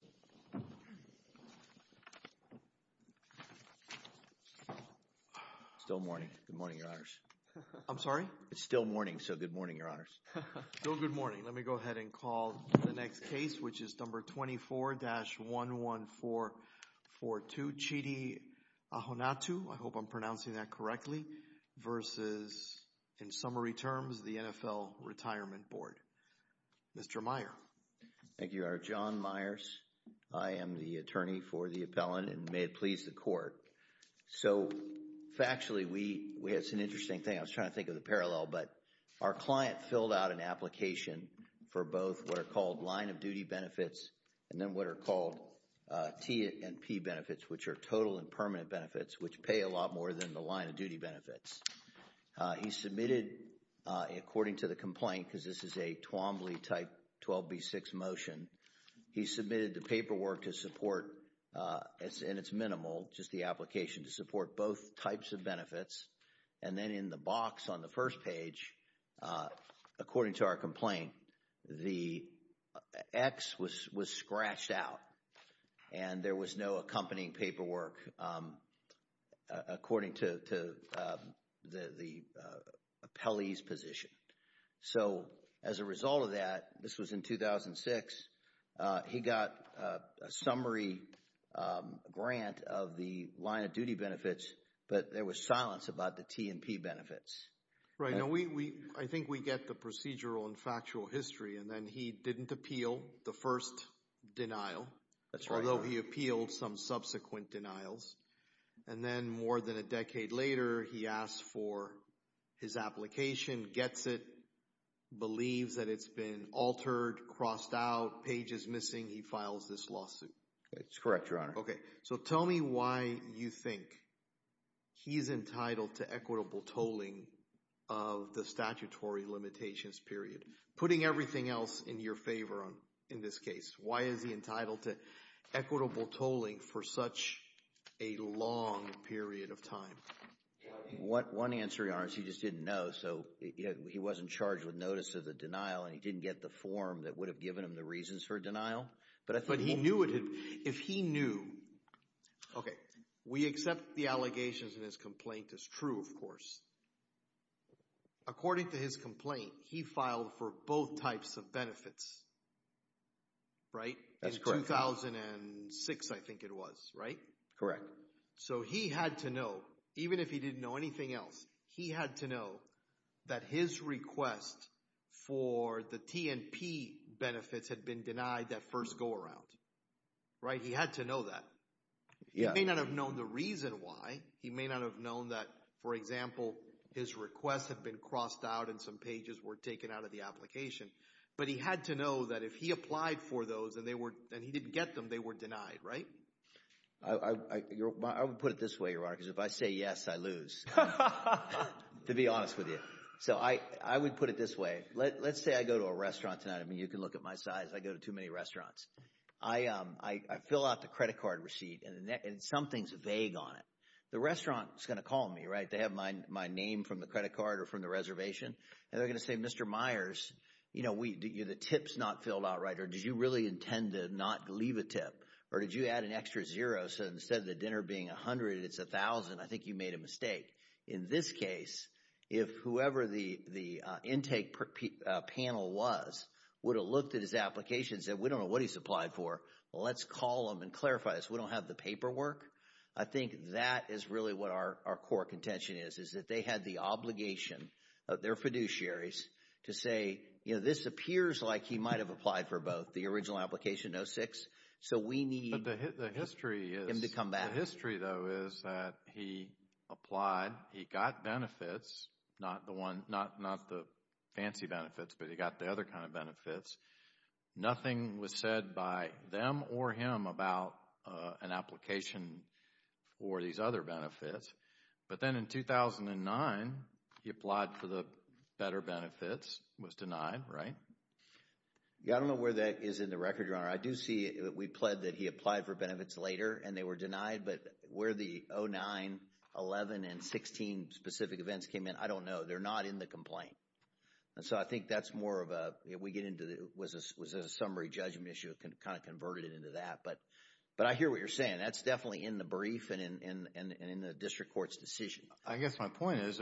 24-11442 Mr. Meier. Thank you, our John Meiers. I am the attorney for the appellant and may it please the court. So factually, we have some interesting things. I was trying to think of the parallel, but our client filled out an application for both what are called line of duty benefits and then what are called T&P benefits, which are top-level benefits. Total and permanent benefits, which pay a lot more than the line of duty benefits. He submitted, according to the complaint, because this is a Twombly type 12b6 motion, he submitted the paperwork to support, and it's minimal, just the application to support both types of benefits. And then in the box on the first page, according to our complaint, the X was scratched out, and there was no accompanying paperwork according to the appellee's position. So as a result of that, this was in 2006, he got a summary grant of the line of duty benefits, but there was silence about the T&P benefits. Right. I think we get the procedural and factual history, and then he didn't appeal the first denial, although he appealed some subsequent denials. And then more than a decade later, he asked for his application, gets it, believes that it's been altered, crossed out, page is missing, he files this lawsuit. That's correct, Your Honor. Okay, so tell me why you think he's entitled to equitable tolling of the statutory limitations period, putting everything else in your favor in this case. Why is he entitled to equitable tolling for such a long period of time? One answer, Your Honor, is he just didn't know. So he wasn't charged with notice of the denial, and he didn't get the form that would have given him the reasons for denial. But he knew it had, if he knew, okay, we accept the allegations in his complaint is true, of course. According to his complaint, he filed for both types of benefits, right? That's correct. In 2006, I think it was, right? Correct. So he had to know, even if he didn't know anything else, he had to know that his request for the T&P benefits had been denied that first go around, right? He had to know that. He may not have known the reason why. He may not have known that, for example, his requests had been crossed out and some pages were taken out of the application. But he had to know that if he applied for those and he didn't get them, they were denied, right? I would put it this way, Your Honor, because if I say yes, I lose, to be honest with you. So I would put it this way. Let's say I go to a restaurant tonight. I mean, you can look at my size. I go to too many restaurants. I fill out the credit card receipt, and something's vague on it. The restaurant is going to call me, right? They have my name from the credit card or from the reservation, and they're going to say, Mr. Myers, the tip's not filled out right, or did you really intend to not leave a tip? Or did you add an extra zero so instead of the dinner being 100, it's 1,000? I think you made a mistake. In this case, if whoever the intake panel was would have looked at his application and said, we don't know what he's applied for. Well, let's call him and clarify this. We don't have the paperwork. I think that is really what our core contention is, is that they had the obligation of their fiduciaries to say, this appears like he might have applied for both, the original application, 06. So, we need him to come back. The history, though, is that he applied. He got benefits, not the fancy benefits, but he got the other kind of benefits. Nothing was said by them or him about an application for these other benefits. But then in 2009, he applied for the better benefits, was denied, right? I don't know where that is in the record, Your Honor. I do see that we pled that he applied for benefits later and they were denied. But where the 09, 11, and 16 specific events came in, I don't know. They're not in the complaint. And so I think that's more of a, if we get into, was it a summary judgment issue, kind of converted into that. But I hear what you're saying. That's definitely in the brief and in the district court's decision. I guess my point is,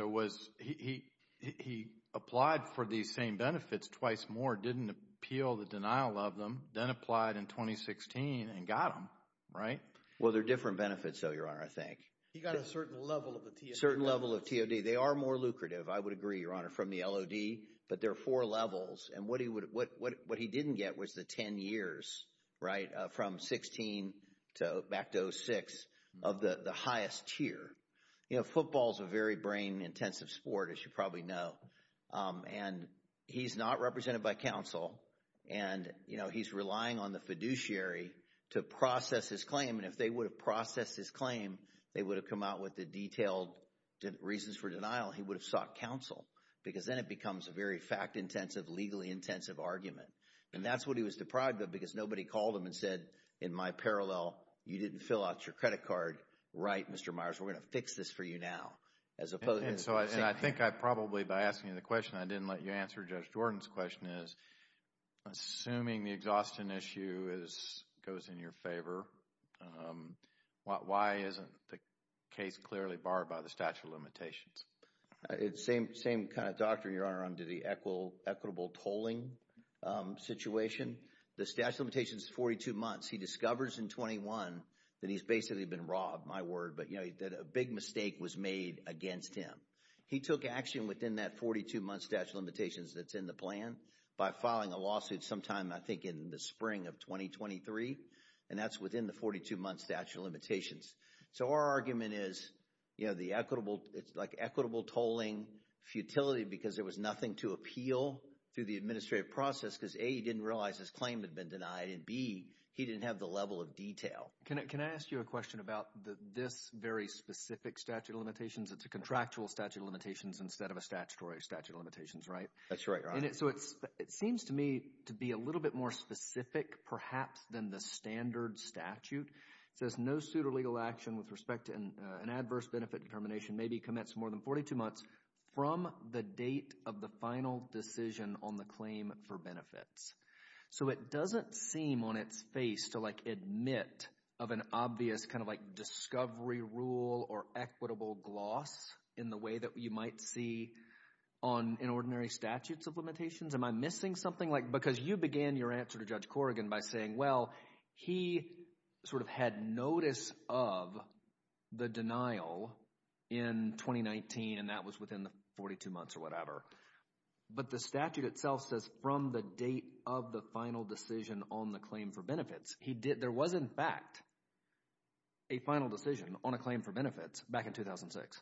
he applied for these same benefits twice more, didn't appeal the denial of them, then applied in 2016 and got them, right? Well, they're different benefits, though, Your Honor, I think. He got a certain level of the TOD. A certain level of TOD. They are more lucrative, I would agree, Your Honor, from the LOD. But there are four levels. And what he didn't get was the 10 years, right, from 16 back to 06, of the highest tier. You know, football is a very brain-intensive sport, as you probably know. And he's not represented by counsel. And, you know, he's relying on the fiduciary to process his claim. And if they would have processed his claim, they would have come out with the detailed reasons for denial. He would have sought counsel because then it becomes a very fact-intensive, legally-intensive argument. And that's what he was deprived of because nobody called him and said, in my parallel, you didn't fill out your credit card, right, Mr. Myers? We're going to fix this for you now. And so I think I probably, by asking you the question, I didn't let you answer Judge Jordan's question, is assuming the exhaustion issue goes in your favor, why isn't the case clearly barred by the statute of limitations? It's the same kind of doctrine, Your Honor, under the equitable tolling situation. The statute of limitations is 42 months. He discovers in 21 that he's basically been robbed, my word, but, you know, that a big mistake was made against him. He took action within that 42-month statute of limitations that's in the plan by filing a lawsuit sometime, I think, in the spring of 2023. And that's within the 42-month statute of limitations. So our argument is, you know, it's like equitable tolling futility because there was nothing to appeal to the administrative process because, A, he didn't realize his claim had been denied, and, B, he didn't have the level of detail. Can I ask you a question about this very specific statute of limitations? It's a contractual statute of limitations instead of a statutory statute of limitations, right? That's right, Your Honor. So it seems to me to be a little bit more specific, perhaps, than the standard statute. It says, No suit or legal action with respect to an adverse benefit determination may be commenced more than 42 months from the date of the final decision on the claim for benefits. So it doesn't seem on its face to, like, admit of an obvious kind of, like, discovery rule or equitable gloss in the way that you might see on an ordinary statute of limitations. Am I missing something? Because you began your answer to Judge Corrigan by saying, well, he sort of had notice of the denial in 2019, and that was within the 42 months or whatever. But the statute itself says from the date of the final decision on the claim for benefits. There was, in fact, a final decision on a claim for benefits back in 2006.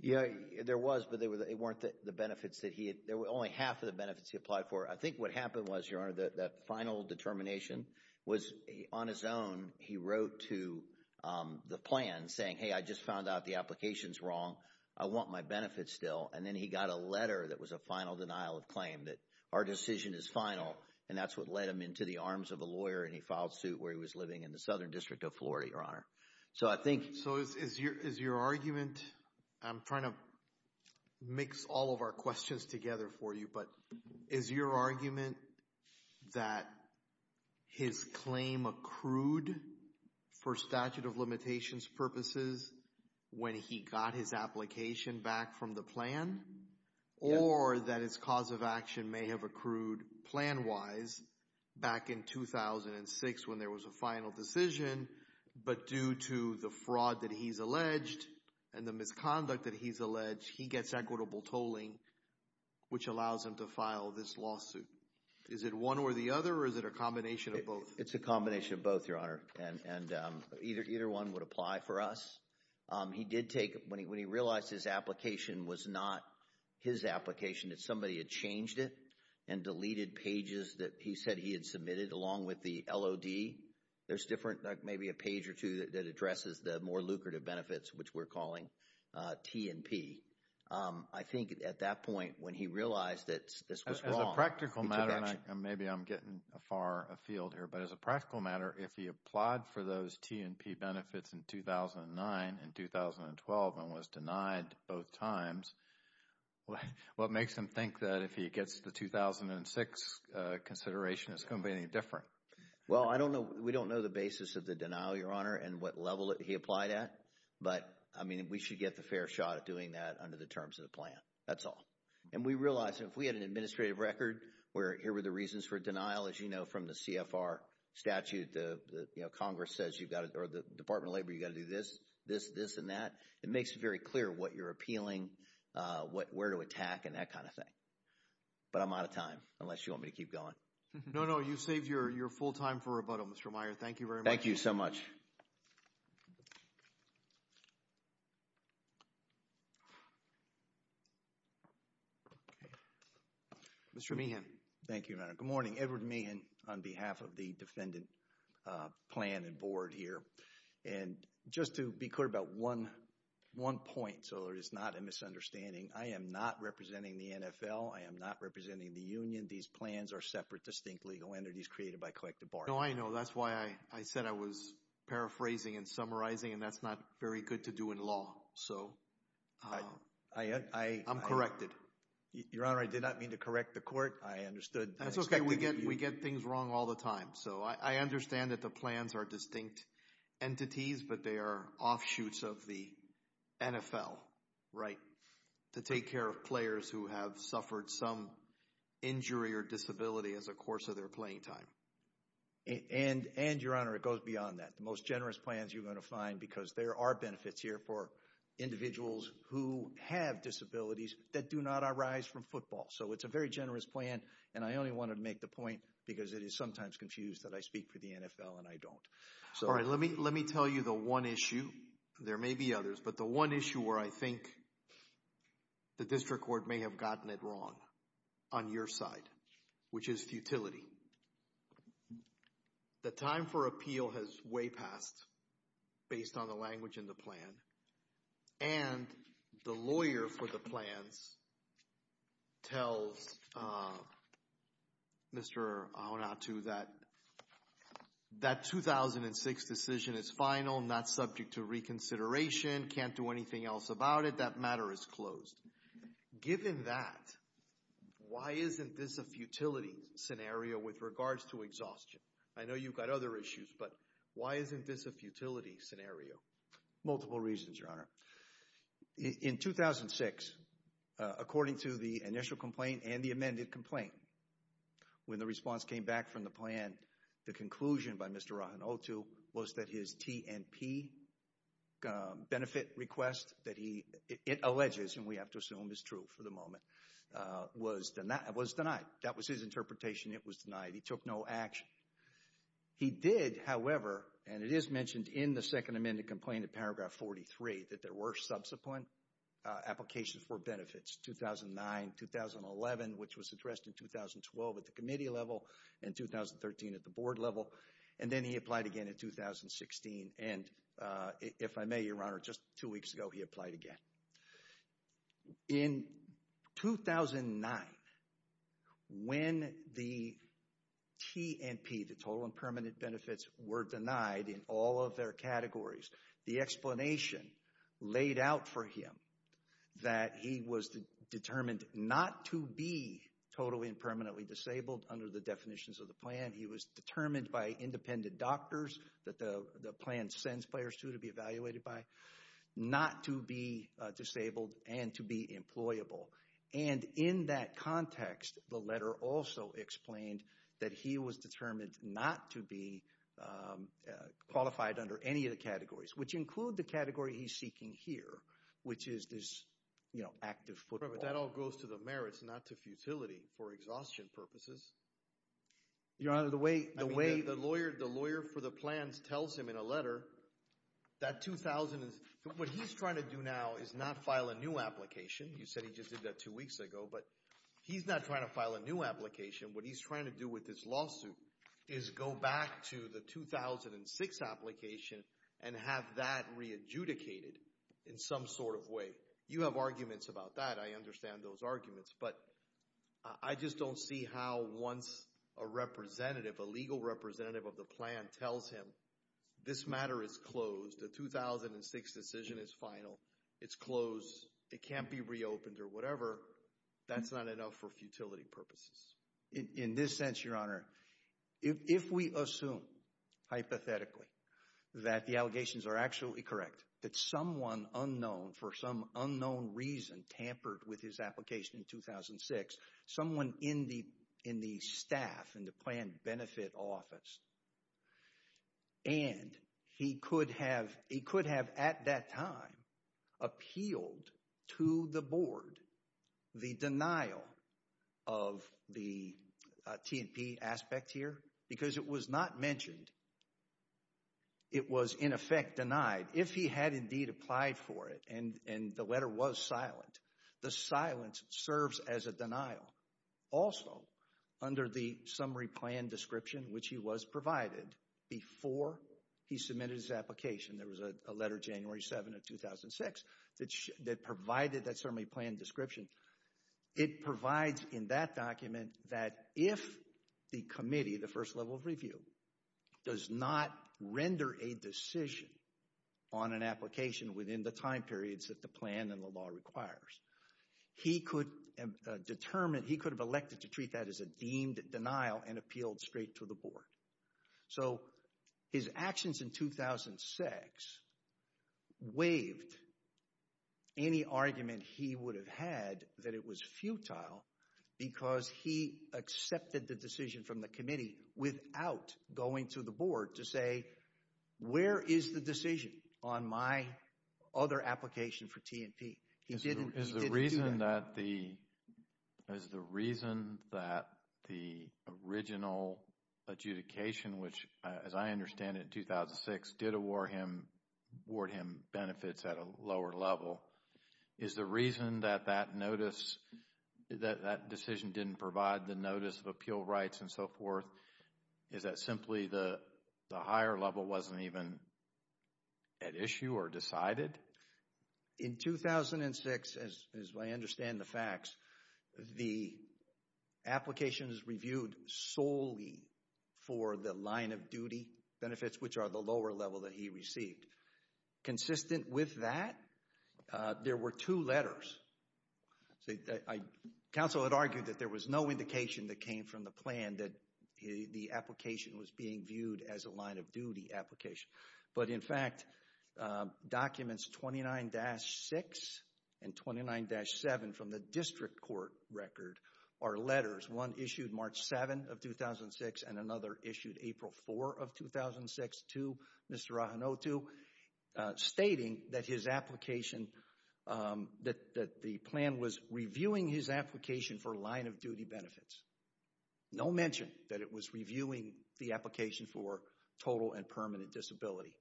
Yeah, there was, but they weren't the benefits that he had. There were only half of the benefits he applied for. I think what happened was, Your Honor, that final determination was on his own. He wrote to the plan saying, hey, I just found out the application's wrong. I want my benefits still. And then he got a letter that was a final denial of claim, that our decision is final. And that's what led him into the arms of a lawyer, and he filed suit where he was living in the Southern District of Florida, Your Honor. So is your argument, I'm trying to mix all of our questions together for you, but is your argument that his claim accrued for statute of limitations purposes when he got his application back from the plan? Or that his cause of action may have accrued plan-wise back in 2006 when there was a final decision, but due to the fraud that he's alleged and the misconduct that he's alleged, he gets equitable tolling, which allows him to file this lawsuit. Is it one or the other, or is it a combination of both? It's a combination of both, Your Honor, and either one would apply for us. He did take, when he realized his application was not his application, that somebody had changed it and deleted pages that he said he had submitted along with the LOD. There's different, like maybe a page or two that addresses the more lucrative benefits, which we're calling T&P. I think at that point when he realized that this was wrong, he took action. Maybe I'm getting far afield here, but as a practical matter, if he applied for those T&P benefits in 2009 and 2012 and was denied both times, what makes him think that if he gets the 2006 consideration, it's going to be any different? Well, we don't know the basis of the denial, Your Honor, and what level he applied at, but we should get the fair shot at doing that under the terms of the plan. That's all. And we realize that if we had an administrative record where here were the reasons for denial, as you know from the CFR statute, the Congress says you've got to – or the Department of Labor, you've got to do this, this, this, and that. It makes it very clear what you're appealing, where to attack, and that kind of thing. But I'm out of time unless you want me to keep going. No, no. You've saved your full time for rebuttal, Mr. Meyer. Thank you very much. Thank you so much. Mr. Meehan. Thank you, Your Honor. Good morning. Edward Meehan on behalf of the Defendant Plan and Board here. And just to be clear about one point so there is not a misunderstanding, I am not representing the NFL. I am not representing the union. These plans are separate, distinct legal entities created by collective bargaining. No, I know. That's why I said I was paraphrasing and summarizing, and that's not very good to do in law. So I'm corrected. Your Honor, I did not mean to correct the court. I understood. That's okay. We get things wrong all the time. So I understand that the plans are distinct entities, but they are offshoots of the NFL, right, to take care of players who have suffered some injury or disability as a course of their playing time. And, Your Honor, it goes beyond that. The most generous plans you're going to find because there are benefits here for individuals who have disabilities that do not arise from football. So it's a very generous plan, and I only wanted to make the point because it is sometimes confused that I speak for the NFL and I don't. All right. Let me tell you the one issue. There may be others, but the one issue where I think the district court may have gotten it wrong on your side, which is futility. The time for appeal has way passed based on the language in the plan, and the lawyer for the plans tells Mr. Aonatu that that 2006 decision is final, not subject to reconsideration, can't do anything else about it. That matter is closed. Given that, why isn't this a futility scenario with regards to exhaustion? I know you've got other issues, but why isn't this a futility scenario? Multiple reasons, Your Honor. In 2006, according to the initial complaint and the amended complaint, when the response came back from the plan, the conclusion by Mr. Aonatu was that his TNP benefit request, that it alleges, and we have to assume is true for the moment, was denied. That was his interpretation. It was denied. He took no action. He did, however, and it is mentioned in the second amended complaint in paragraph 43, that there were subsequent applications for benefits, 2009, 2011, which was addressed in 2012 at the committee level and 2013 at the board level, and then he applied again in 2016. And if I may, Your Honor, just two weeks ago he applied again. In 2009, when the TNP, the total and permanent benefits, were denied in all of their categories, the explanation laid out for him that he was determined not to be totally and permanently disabled under the definitions of the plan. He was determined by independent doctors that the plan sends players to be evaluated by, not to be disabled and to be employable. And in that context, the letter also explained that he was determined not to be qualified under any of the categories, which include the category he's seeking here, which is this, you know, active football. But that all goes to the merits, not to futility for exhaustion purposes. Your Honor, the way the lawyer for the plans tells him in a letter that 2000 is, what he's trying to do now is not file a new application. You said he just did that two weeks ago. But he's not trying to file a new application. What he's trying to do with this lawsuit is go back to the 2006 application and have that re-adjudicated in some sort of way. You have arguments about that. I understand those arguments. But I just don't see how once a representative, a legal representative of the plan, tells him this matter is closed, a 2006 decision is final, it's closed, it can't be reopened or whatever, that's not enough for futility purposes. In this sense, Your Honor, if we assume hypothetically that the allegations are actually correct, that someone unknown, for some unknown reason, tampered with his application in 2006, someone in the staff, in the plan benefit office, and he could have at that time appealed to the board the denial of the T&P aspect here, because it was not mentioned, it was in effect denied. If he had indeed applied for it and the letter was silent, the silence serves as a denial. Also, under the summary plan description, which he was provided before he submitted his application, there was a letter January 7 of 2006 that provided that summary plan description, it provides in that document that if the committee, the first level of review, does not render a decision on an application within the time periods that the plan and the law requires, he could have elected to treat that as a deemed denial and appealed straight to the board. So his actions in 2006 waived any argument he would have had that it was futile because he accepted the decision from the committee without going to the board to say, where is the decision on my other application for T&P? He didn't do that. Is the reason that the original adjudication, which as I understand it in 2006, did award him benefits at a lower level, is the reason that that decision didn't provide the notice of appeal rights and so forth, is that simply the higher level wasn't even at issue or decided? In 2006, as I understand the facts, the application is reviewed solely for the line of duty benefits, which are the lower level that he received. Consistent with that, there were two letters. Council had argued that there was no indication that came from the plan that the application was being viewed as a line of duty application. But in fact, documents 29-6 and 29-7 from the district court record are letters. One issued March 7 of 2006 and another issued April 4 of 2006 to Mr. Ahenotu, stating that the plan was reviewing his application for line of duty benefits. No mention that it was reviewing the application for total and permanent disability.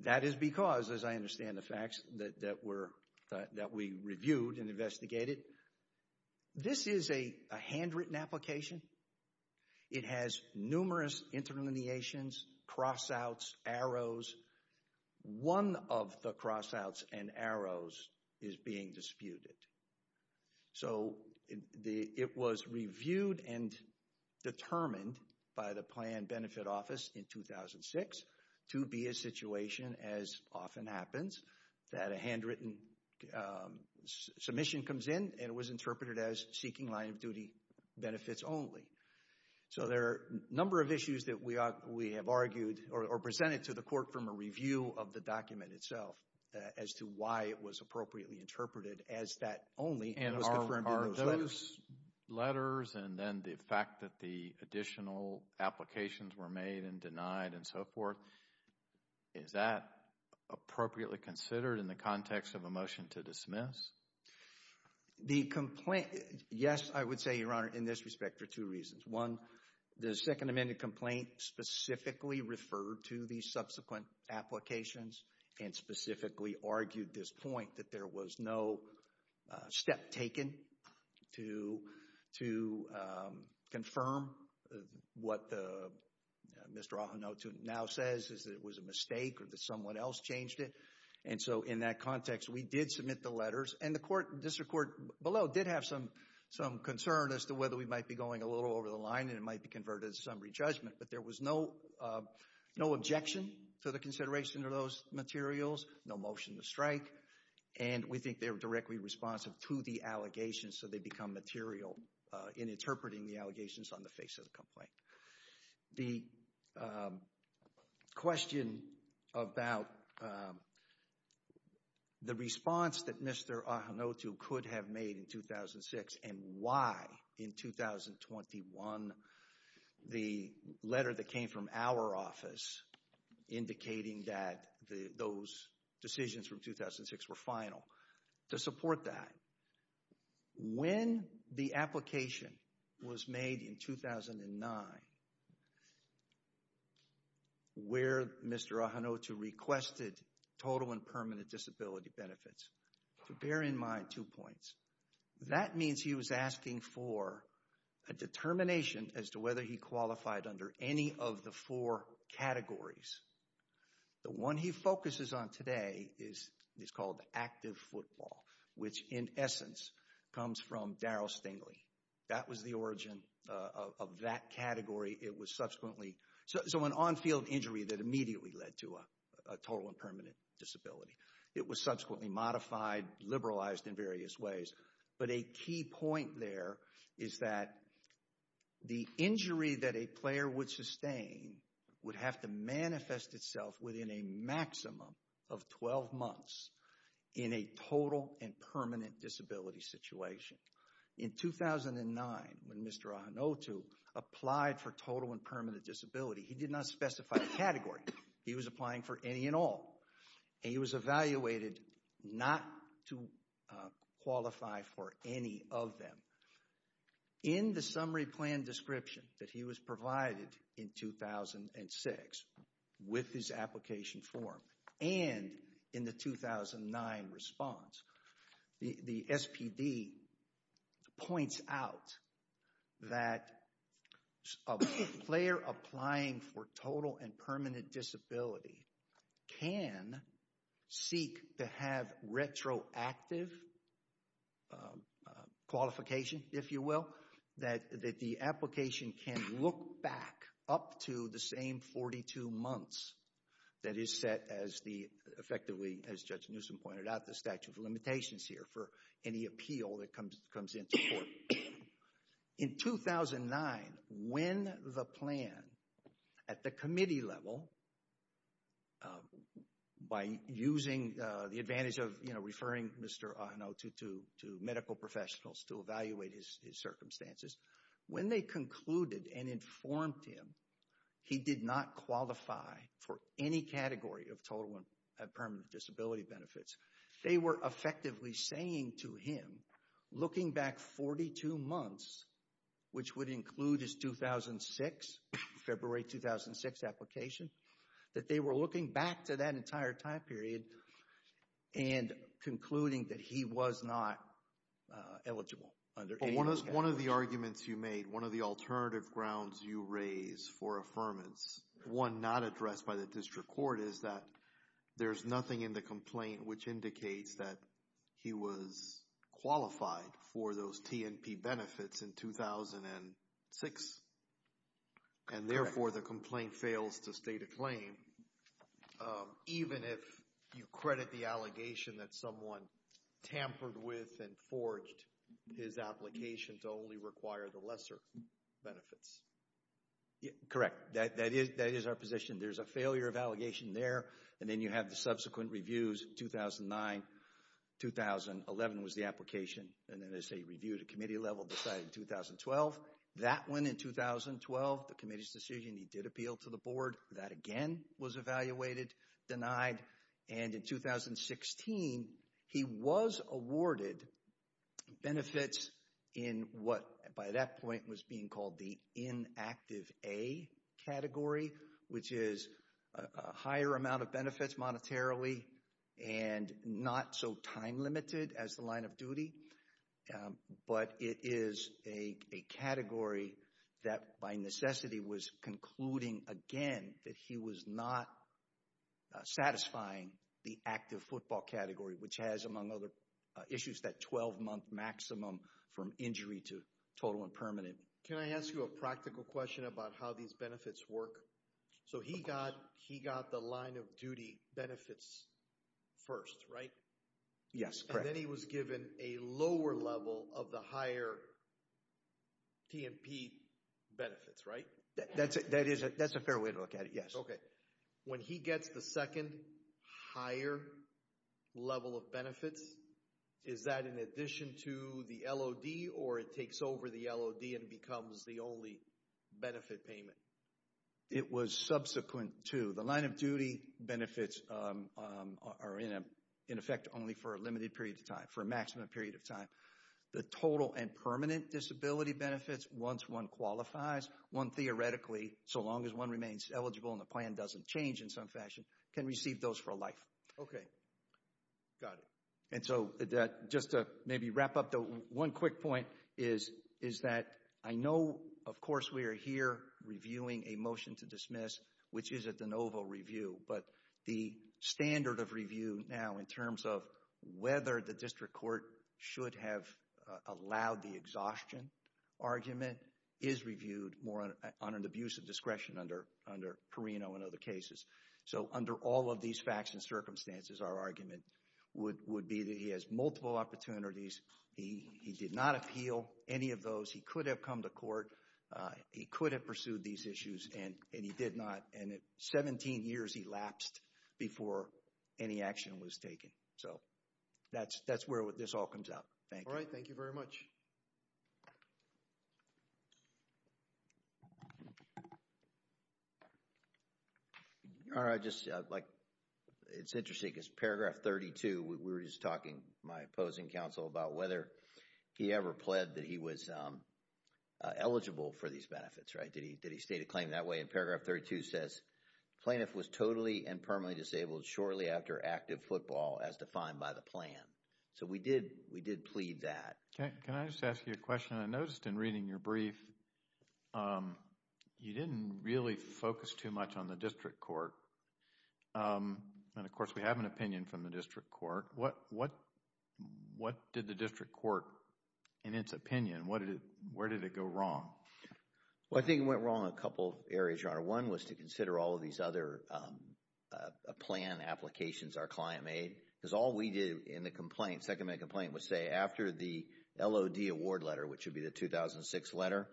That is because, as I understand the facts that we reviewed and investigated, this is a handwritten application. It has numerous interlineations, cross-outs, arrows. One of the cross-outs and arrows is being disputed. So, it was reviewed and determined by the plan benefit office in 2006 to be a situation, as often happens, that a handwritten submission comes in and it was interpreted as seeking line of duty benefits only. So, there are a number of issues that we have argued or presented to the court from a review of the document itself as to why it was appropriately interpreted as that only was confirmed in those letters. And are those letters and then the fact that the additional applications were made and denied and so forth, is that appropriately considered in the context of a motion to dismiss? The complaint, yes, I would say, Your Honor, in this respect for two reasons. One, the Second Amendment complaint specifically referred to the subsequent applications and specifically argued this point that there was no step taken to confirm what Mr. Ohno-Tune now says is that it was a mistake or that someone else changed it. And so, in that context, we did submit the letters. And the district court below did have some concern as to whether we might be going a little over the line and it might be converted to summary judgment. But there was no objection to the consideration of those materials, no motion to strike. And we think they were directly responsive to the allegations so they become material in interpreting the allegations on the face of the complaint. The question about the response that Mr. Ohno-Tune could have made in 2006 and why in 2021 the letter that came from our office indicating that those decisions from 2006 were final. To support that, when the application was made in 2009 where Mr. Ohno-Tune requested total and permanent disability benefits, bear in mind two points. That means he was asking for a determination as to whether he qualified under any of the four categories. The one he focuses on today is called active football, which in essence comes from Darryl Stingley. That was the origin of that category. It was subsequently... So an on-field injury that immediately led to a total and permanent disability. It was subsequently modified, liberalized in various ways. But a key point there is that the injury that a player would sustain would have to manifest itself within a maximum of 12 months in a total and permanent disability situation. In 2009, when Mr. Ohno-Tune applied for total and permanent disability, he did not specify the category. He was applying for any and all. He was evaluated not to qualify for any of them. In the summary plan description that he was provided in 2006 with his application form and in the 2009 response, the SPD points out that a player applying for total and permanent disability can seek to have retroactive qualification, if you will, that the application can look back up to the same 42 months that is set as effectively, as Judge Newsom pointed out, the statute of limitations here for any appeal that comes into court. In 2009, when the plan at the committee level, by using the advantage of referring Mr. Ohno to medical professionals to evaluate his circumstances, when they concluded and informed him he did not qualify for any category of total and permanent disability benefits, they were effectively saying to him, looking back 42 months, which would include his 2006, February 2006 application, that they were looking back to that entire time period and concluding that he was not eligible under any category. One of the arguments you made, one of the alternative grounds you raise for affirmance, one not addressed by the district court, is that there's nothing in the complaint which indicates that he was qualified for those T&P benefits in 2006. And therefore, the complaint fails to state a claim, even if you credit the allegation that someone tampered with and forged his application to only require the lesser benefits. Correct. That is our position. There's a failure of allegation there. And then you have the subsequent reviews, 2009, 2011 was the application, and then it's a review at a committee level decided in 2012. That one in 2012, the committee's decision, he did appeal to the board. That again was evaluated, denied. And in 2016, he was awarded benefits in what, by that point, was being called the inactive A category, which is a higher amount of benefits monetarily and not so time-limited as the line of duty. But it is a category that by necessity was concluding, again, that he was not satisfying the active football category, which has, among other issues, that 12-month maximum from injury to total and permanent. Can I ask you a practical question about how these benefits work? So he got the line of duty benefits first, right? Yes, correct. And then he was given a lower level of the higher T&P benefits, right? That's a fair way to look at it, yes. Okay. When he gets the second higher level of benefits, is that in addition to the LOD, or it takes over the LOD and becomes the only benefit payment? It was subsequent to. The line of duty benefits are, in effect, only for a limited period of time, for a maximum period of time. The total and permanent disability benefits, once one qualifies, one theoretically, so long as one remains eligible and the plan doesn't change in some fashion, can receive those for life. Okay. Got it. And so, just to maybe wrap up, the one quick point is that I know, of course, we are here reviewing a motion to dismiss, which is a de novo review, but the standard of review now in terms of whether the district court should have allowed the exhaustion argument is reviewed more on an abuse of discretion under Perino and other cases. So, under all of these facts and circumstances, our argument would be that he has multiple opportunities. He did not appeal any of those. He could have come to court. He could have pursued these issues, and he did not. And 17 years elapsed before any action was taken. So, that's where this all comes out. Thank you. All right. Thank you very much. All right. Just, like, it's interesting because paragraph 32, we were just talking, my opposing counsel, about whether he ever pled that he was eligible for these benefits, right? Did he state a claim that way? And paragraph 32 says, plaintiff was totally and permanently disabled shortly after active football as defined by the plan. So, we did plead that. Okay. Can I just ask you a question? I noticed in reading your brief, you didn't really focus too much on the district court. And, of course, we have an opinion from the district court. What did the district court, in its opinion, where did it go wrong? Well, I think it went wrong in a couple areas, Your Honor. One was to consider all of these other plan applications our client made because all we did in the complaint, second-minute complaint, was say after the LOD award letter, which would be the 2006 letter,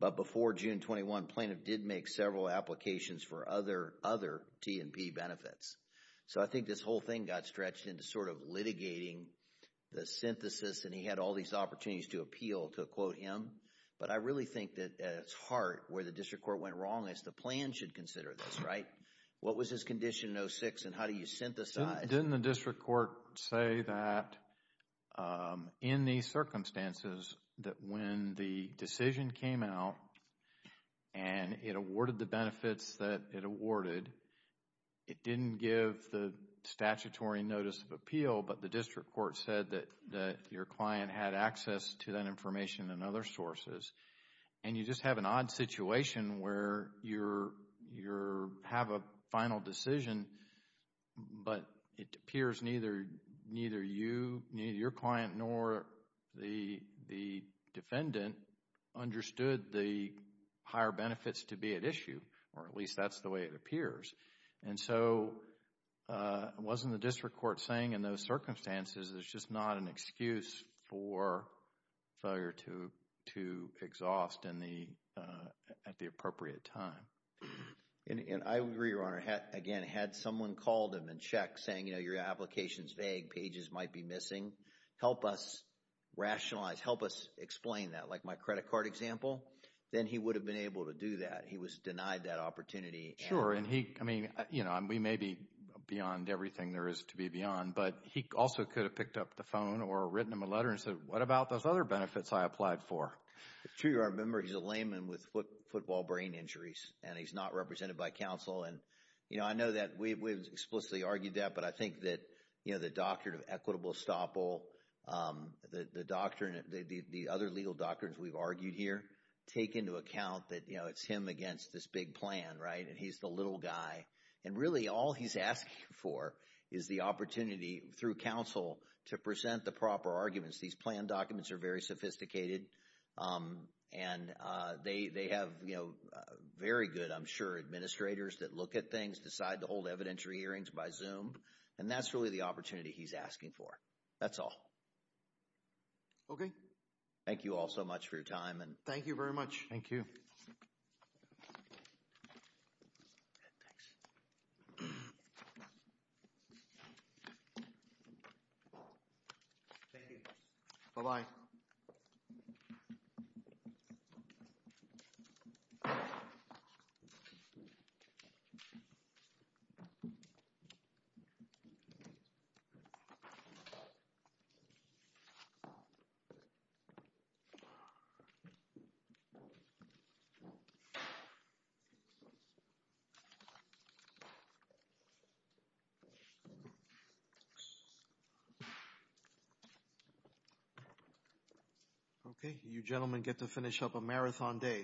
but before June 21, plaintiff did make several applications for other T&P benefits. So, I think this whole thing got stretched into sort of litigating the synthesis, and he had all these opportunities to appeal, to quote him. But I really think that, at its heart, where the district court went wrong is the plan should consider this, right? What was his condition in 06, and how do you synthesize? Didn't the district court say that in these circumstances, that when the decision came out, and it awarded the benefits that it awarded, it didn't give the statutory notice of appeal, but the district court said that your client had access to that information and other sources, and you just have an odd situation where you have a final decision, but it appears neither you, neither your client, nor the defendant understood the higher benefits to be at issue, or at least that's the way it appears. And so, wasn't the district court saying in those circumstances, there's just not an excuse for failure to exhaust at the appropriate time? And I agree, Your Honor. Again, had someone called him and checked saying, you know, your application's vague, pages might be missing, help us rationalize, help us explain that, like my credit card example, then he would have been able to do that. He was denied that opportunity. Sure, and he, I mean, you know, we may be beyond everything there is to be beyond, but he also could have picked up the phone or written him a letter and said, what about those other benefits I applied for? True, Your Honor. Remember, he's a layman with football brain injuries, and he's not represented by counsel. And, you know, I know that we've explicitly argued that, but I think that, you know, the doctrine of equitable estoppel, the other legal doctrines we've argued here take into account that, you know, it's him against this big plan, right? And he's the little guy. And really all he's asking for is the opportunity through counsel to present the proper arguments. These plan documents are very sophisticated, and they have, you know, very good, I'm sure, administrators that look at things, decide to hold evidentiary hearings by Zoom, and that's really the opportunity he's asking for. That's all. Okay. Thank you all so much for your time. Thank you very much. Thank you. Thank you. Bye-bye. Bye-bye.